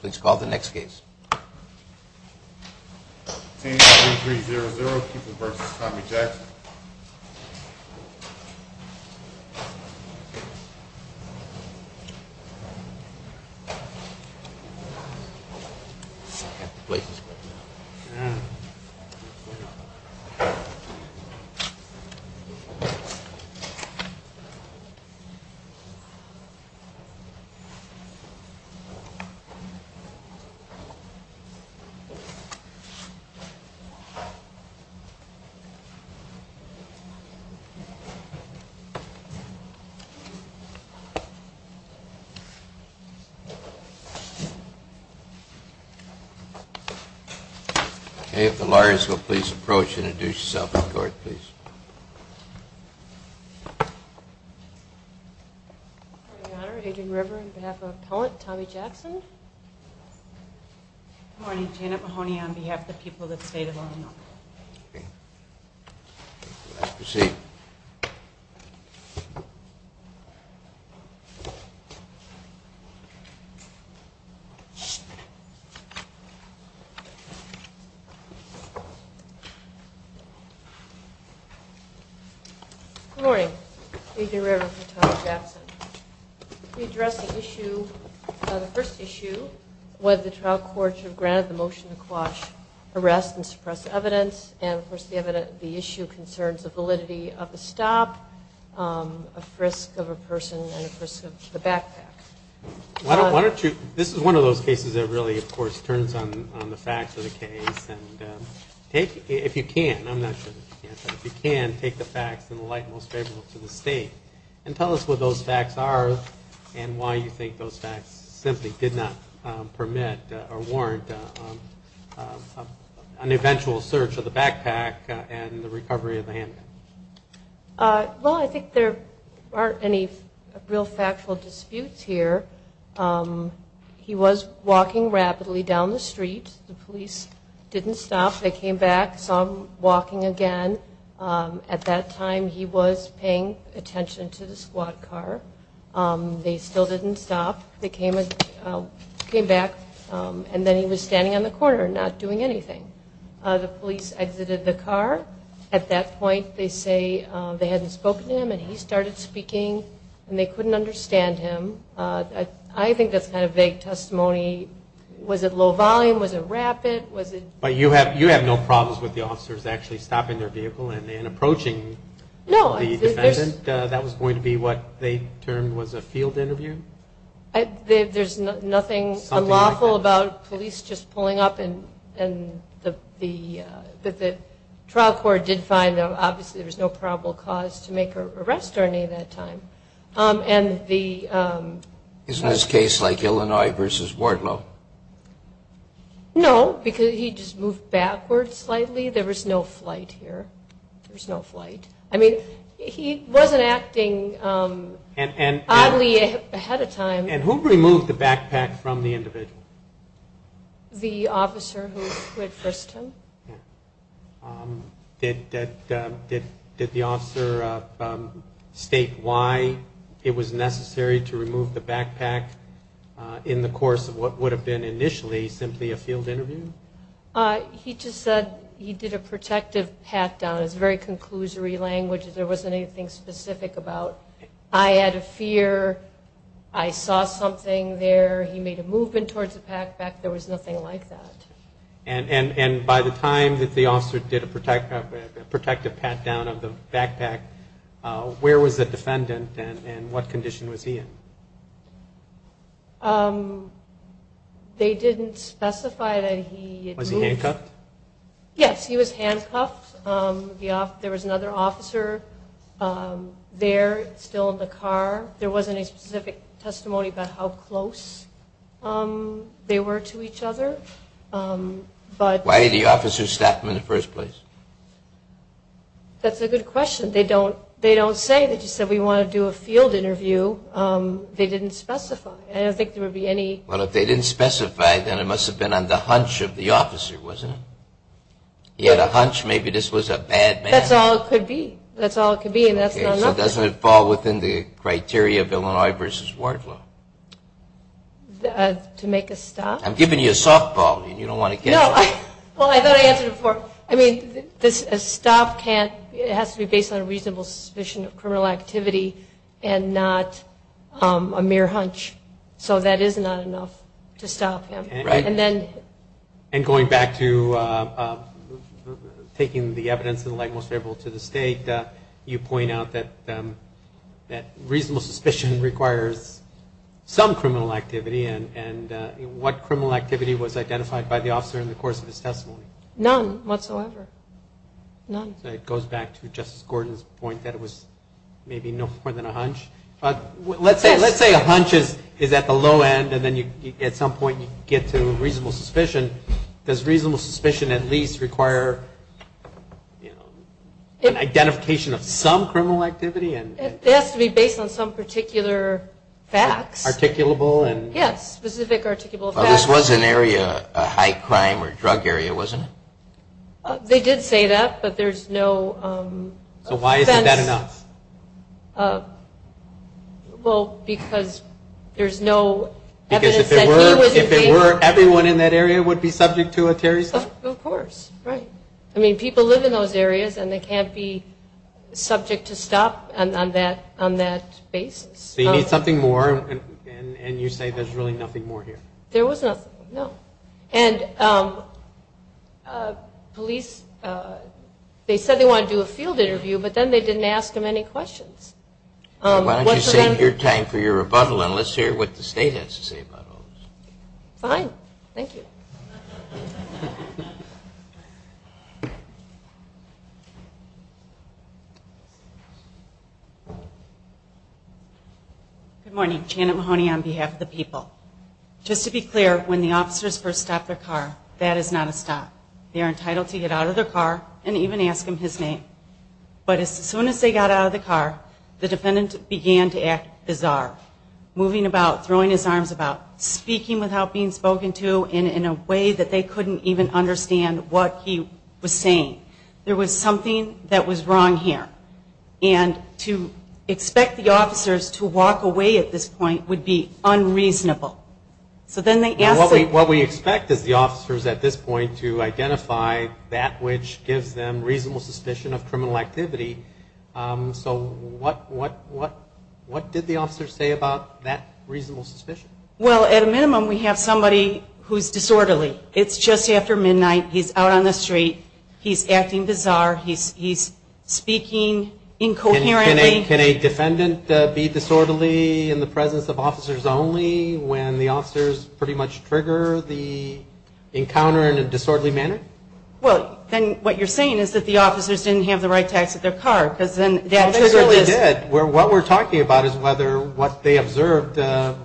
Please call the next case. Okay, if the lawyers will please approach and introduce yourselves to the court, please. Your Honor, Adrian River on behalf of Appellant Tommy Jackson. Good morning, Janet Mahoney on behalf of the people of the State of Illinois. Okay, you may proceed. Good morning, Adrian River for Tommy Jackson. We address the issue, the first issue, whether the trial court should have granted the motion to quash, arrest, and suppress evidence, and of course the issue concerns the validity of the stop, a frisk of a person, and a frisk of the backpack. Why don't you, this is one of those cases that really, of course, turns on the facts of the case, and if you can, I'm not sure that you can, but if you can, take the facts in the light most favorable to the State and tell us what those facts are and why you think those facts simply did not permit or warrant an eventual search of the backpack and the recovery of the handgun. Well, I think there aren't any real factual disputes here. He was walking rapidly down the street. The police didn't stop. They came back, saw him walking again. At that time, he was paying attention to the squad car. They still didn't stop. They came back, and then he was standing on the corner not doing anything. The police exited the car. At that point, they say they hadn't spoken to him, and he started speaking, and they couldn't understand him. I think that's kind of vague testimony. Was it low volume? Was it rapid? But you have no problems with the officers actually stopping their vehicle and approaching the defendant? That was going to be what they termed was a field interview? There's nothing unlawful about police just pulling up, but the trial court did find, obviously, there was no probable cause to make an arrest or any at that time. Isn't this case like Illinois v. Wardlow? No, because he just moved backwards slightly. There was no flight here. There was no flight. I mean, he wasn't acting oddly ahead of time. And who removed the backpack from the individual? The officer who had frisked him. Did the officer state why it was necessary to remove the backpack in the course of what would have been initially simply a field interview? He just said he did a protective pat-down. It's very conclusory language. There wasn't anything specific about I had a fear, I saw something there. He made a movement towards the backpack. There was nothing like that. And by the time that the officer did a protective pat-down of the backpack, where was the defendant and what condition was he in? They didn't specify that he had moved. Was he handcuffed? Yes, he was handcuffed. There was another officer there still in the car. There wasn't a specific testimony about how close they were to each other. Why did the officer stop him in the first place? That's a good question. They don't say. They just said, we want to do a field interview. They didn't specify. I don't think there would be any. Well, if they didn't specify, then it must have been on the hunch of the officer, wasn't it? He had a hunch maybe this was a bad man. That's all it could be, and that's not enough. So it doesn't fall within the criteria of Illinois v. Waterflow? To make a stop? I'm giving you a softball. You don't want to catch it. Well, I thought I answered it before. I mean, a stop has to be based on a reasonable suspicion of criminal activity and not a mere hunch. So that is not enough to stop him. And going back to taking the evidence of the like most favorable to the state, you point out that reasonable suspicion requires some criminal activity, and what criminal activity was identified by the officer in the course of his testimony? None whatsoever. None. It goes back to Justice Gordon's point that it was maybe no more than a hunch. Let's say a hunch is at the low end, and then at some point you get to reasonable suspicion. Does reasonable suspicion at least require an identification of some criminal activity? It has to be based on some particular facts. Articulable? Yes, specific articulable facts. Well, this was an area, a high crime or drug area, wasn't it? They did say that, but there's no fence. So why isn't that enough? Well, because there's no evidence that he was involved. If it were, everyone in that area would be subject to a terrorist attack? Of course. Right. I mean, people live in those areas, and they can't be subject to stop on that basis. So you need something more, and you say there's really nothing more here? There was nothing. No. And police, they said they wanted to do a field interview, but then they didn't ask him any questions. Why don't you save your time for your rebuttal, and let's hear what the State has to say about all this. Fine. Thank you. Good morning. Janet Mahoney on behalf of the people. Just to be clear, when the officers first stop their car, that is not a stop. They are entitled to get out of their car and even ask him his name. But as soon as they got out of the car, the defendant began to act bizarre, moving about, throwing his arms about, speaking without being spoken to in a way that they couldn't even understand what he was saying. There was something that was wrong here. And to expect the officers to walk away at this point would be unreasonable. What we expect is the officers at this point to identify that which gives them reasonable suspicion of criminal activity. So what did the officers say about that reasonable suspicion? Well, at a minimum, we have somebody who's disorderly. It's just after midnight. He's out on the street. He's acting bizarre. He's speaking incoherently. Can a defendant be disorderly in the presence of officers only when the officers pretty much trigger the encounter in a disorderly manner? Well, then what you're saying is that the officers didn't have the right to exit their car, because then that trigger list. They did. What we're talking about is whether what they observed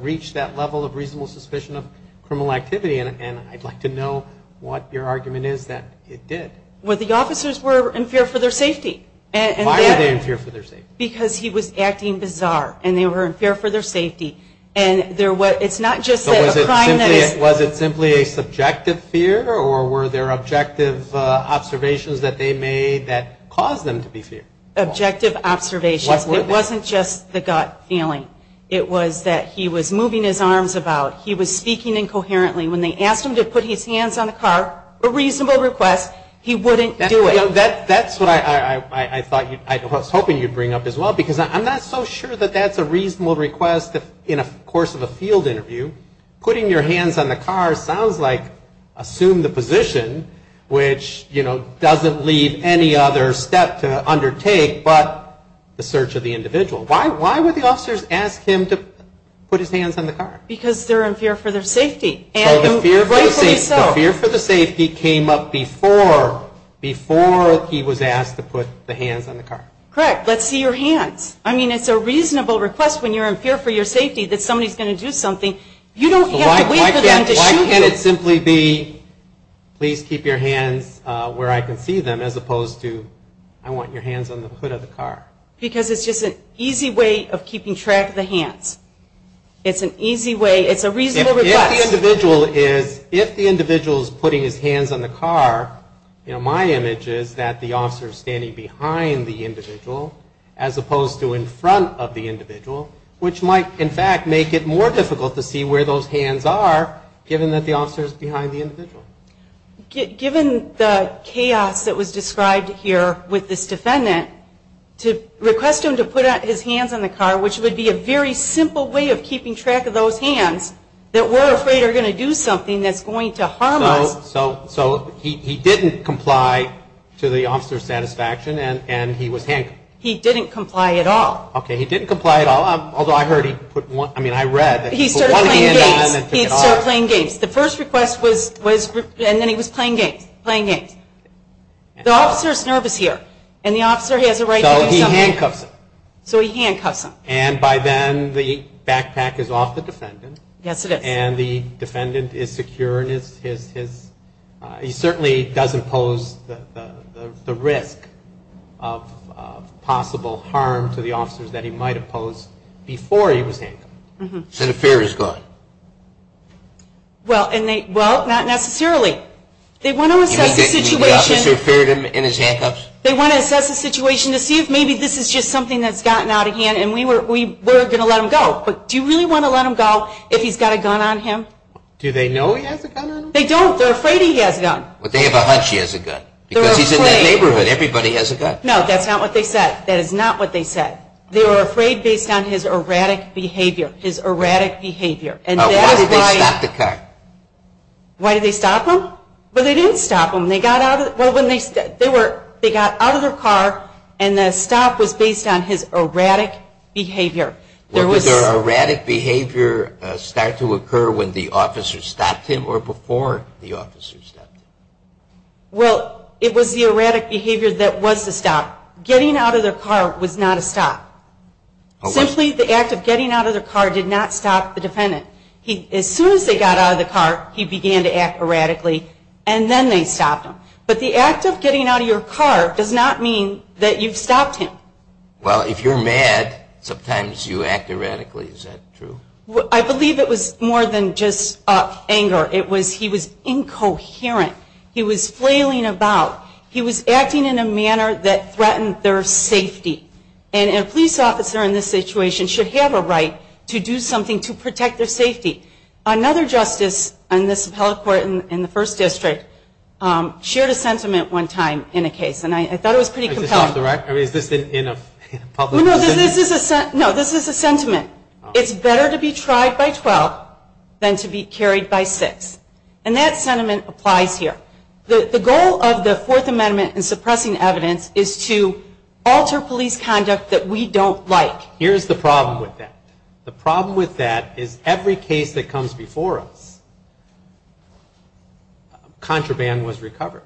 reached that level of reasonable suspicion of criminal activity. And I'd like to know what your argument is that it did. Well, the officers were in fear for their safety. Why were they in fear for their safety? Because he was acting bizarre. And they were in fear for their safety. And it's not just that a criminal is. So was it simply a subjective fear, or were there objective observations that they made that caused them to be feared? Objective observations. It wasn't just the gut feeling. It was that he was moving his arms about. He was speaking incoherently. When they asked him to put his hands on the car, a reasonable request, he wouldn't do it. That's what I was hoping you'd bring up as well, because I'm not so sure that that's a reasonable request in a course of a field interview. Putting your hands on the car sounds like assume the position, which, you know, doesn't leave any other step to undertake but the search of the individual. Why would the officers ask him to put his hands on the car? Because they're in fear for their safety. So the fear for the safety came up before he was asked to put the hands on the car. Correct. Let's see your hands. I mean, it's a reasonable request when you're in fear for your safety that somebody's going to do something. You don't have to wait for them to shoot you. Why can't it simply be please keep your hands where I can see them as opposed to I want your hands on the hood of the car? It's an easy way. It's a reasonable request. If the individual is putting his hands on the car, you know, my image is that the officer is standing behind the individual as opposed to in front of the individual, which might, in fact, make it more difficult to see where those hands are given that the officer is behind the individual. Given the chaos that was described here with this defendant, to request him to put his hands on the car, which would be a very simple way of keeping track of those hands, that we're afraid are going to do something that's going to harm us. So he didn't comply to the officer's satisfaction and he was handcuffed. He didn't comply at all. Okay. He didn't comply at all, although I heard he put one, I mean, I read that he put one hand on the car. He started playing games. The first request was and then he was playing games, playing games. The officer is nervous here and the officer has a right to do something. So he handcuffs him. So he handcuffs him. And by then the backpack is off the defendant. Yes, it is. And the defendant is secure and he certainly does impose the risk of possible harm to the officers that he might have posed before he was handcuffed. So the fear is gone. Well, not necessarily. They want to assess the situation. You mean the officer feared him in his handcuffs? They want to assess the situation to see if maybe this is just something that's gotten out of hand and we're going to let him go. But do you really want to let him go if he's got a gun on him? Do they know he has a gun on him? They don't. They're afraid he has a gun. But they have a hunch he has a gun. Because he's in that neighborhood, everybody has a gun. No, that's not what they said. That is not what they said. They were afraid based on his erratic behavior, his erratic behavior. Why did they stop the car? Why did they stop him? Well, they didn't stop him. They got out of their car and the stop was based on his erratic behavior. Did their erratic behavior start to occur when the officer stopped him or before the officer stopped him? Well, it was the erratic behavior that was the stop. Getting out of their car was not a stop. Simply the act of getting out of their car did not stop the defendant. As soon as they got out of the car, he began to act erratically and then they stopped him. But the act of getting out of your car does not mean that you've stopped him. Well, if you're mad, sometimes you act erratically. Is that true? I believe it was more than just anger. It was he was incoherent. He was flailing about. He was acting in a manner that threatened their safety. And a police officer in this situation should have a right to do something to protect their safety. Another justice in this appellate court in the first district shared a sentiment one time in a case. And I thought it was pretty compelling. Is this off the rack? Is this in a public? No, this is a sentiment. It's better to be tried by 12 than to be carried by 6. And that sentiment applies here. The goal of the Fourth Amendment in suppressing evidence is to alter police conduct that we don't like. Here's the problem with that. The problem with that is every case that comes before us, contraband was recovered.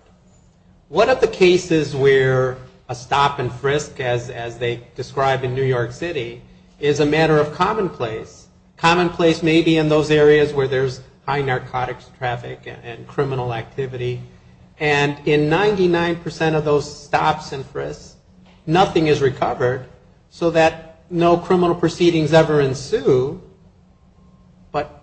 One of the cases where a stop and frisk, as they describe in New York City, is a matter of commonplace. Commonplace may be in those areas where there's high narcotics traffic and criminal activity. And in 99% of those stops and frisks, nothing is recovered so that no criminal proceedings ever ensue. But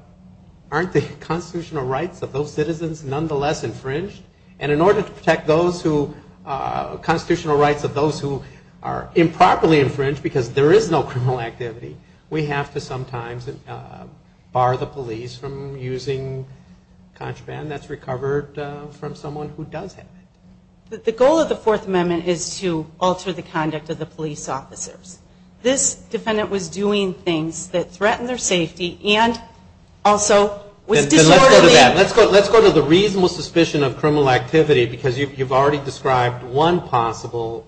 aren't the constitutional rights of those citizens nonetheless infringed? And in order to protect those who constitutional rights of those who are improperly infringed, because there is no criminal activity, we have to sometimes bar the police from using contraband that's recovered from someone who does have it. The goal of the Fourth Amendment is to alter the conduct of the police officers. This defendant was doing things that threatened their safety and also was disorderly. Let's go to the reasonable suspicion of criminal activity because you've already described one possible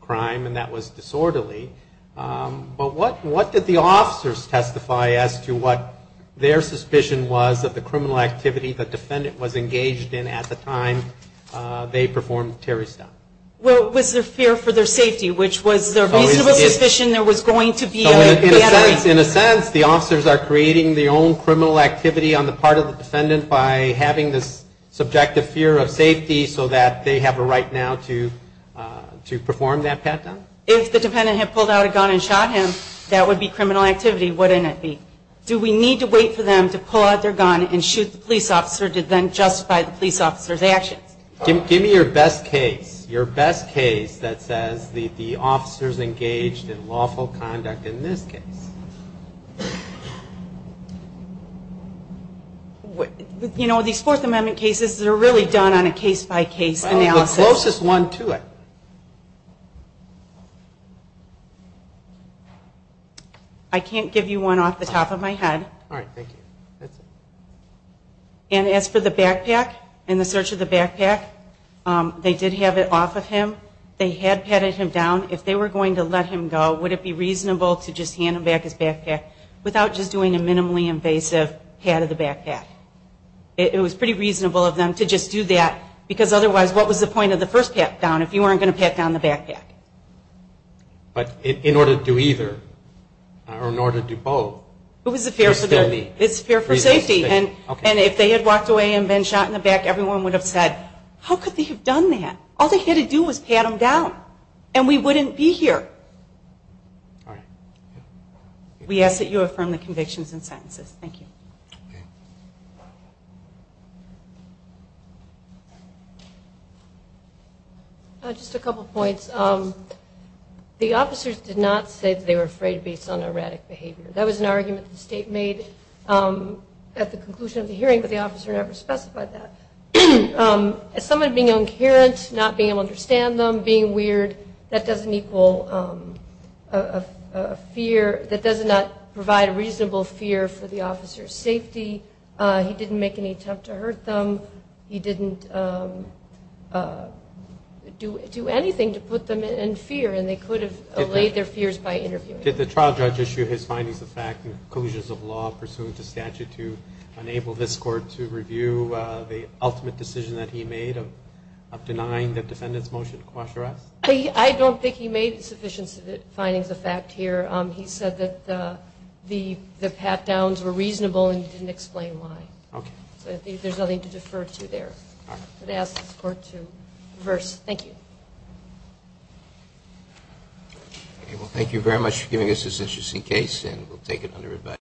crime and that was disorderly. But what did the officers testify as to what their suspicion was of the criminal activity the defendant was engaged in at the time they performed Terry's stop? Well, it was their fear for their safety, which was their reasonable suspicion there was going to be a bad act. In a sense, the officers are creating their own criminal activity on the part of the defendant by having this subjective fear of safety so that they have a right now to perform that pat down? If the defendant had pulled out a gun and shot him, that would be criminal activity, wouldn't it be? Do we need to wait for them to pull out their gun and shoot the police officer to then justify the police officer's actions? Give me your best case, your best case that says the officers engaged in lawful conduct in this case. You know, these Fourth Amendment cases, they're really done on a case-by-case analysis. Well, the closest one to it. I can't give you one off the top of my head. All right. Thank you. That's it. And as for the backpack, in the search of the backpack, they did have it off of him. They had patted him down. If they were going to let him go, would it be reasonable to just hand him back to the police? Without just doing a minimally invasive pat of the backpack? It was pretty reasonable of them to just do that, because otherwise what was the point of the first pat down if you weren't going to pat down the backpack? But in order to do either, or in order to do both, it's fair for safety. It's fair for safety. And if they had walked away and been shot in the back, everyone would have said, how could they have done that? All they had to do was pat him down, and we wouldn't be here. All right. We ask that you affirm the convictions and sentences. Thank you. Just a couple points. The officers did not say that they were afraid based on erratic behavior. That was an argument the state made at the conclusion of the hearing, but the officer never specified that. As someone being incoherent, not being able to understand them, being weird, that doesn't equal a fear. That does not provide a reasonable fear for the officer's safety. He didn't make any attempt to hurt them. He didn't do anything to put them in fear, and they could have allayed their fears by interviewing them. Did the trial judge issue his findings of fact and conclusions of law pursuant to statute to enable this court to review the ultimate decision that he made of denying the defendant's motion to quash arrests? I don't think he made sufficient findings of fact here. He said that the pat-downs were reasonable and he didn't explain why. Okay. So I think there's nothing to defer to there. All right. I would ask this court to reverse. Thank you. Okay. Well, thank you very much for giving us this interesting case, and we'll take it under review.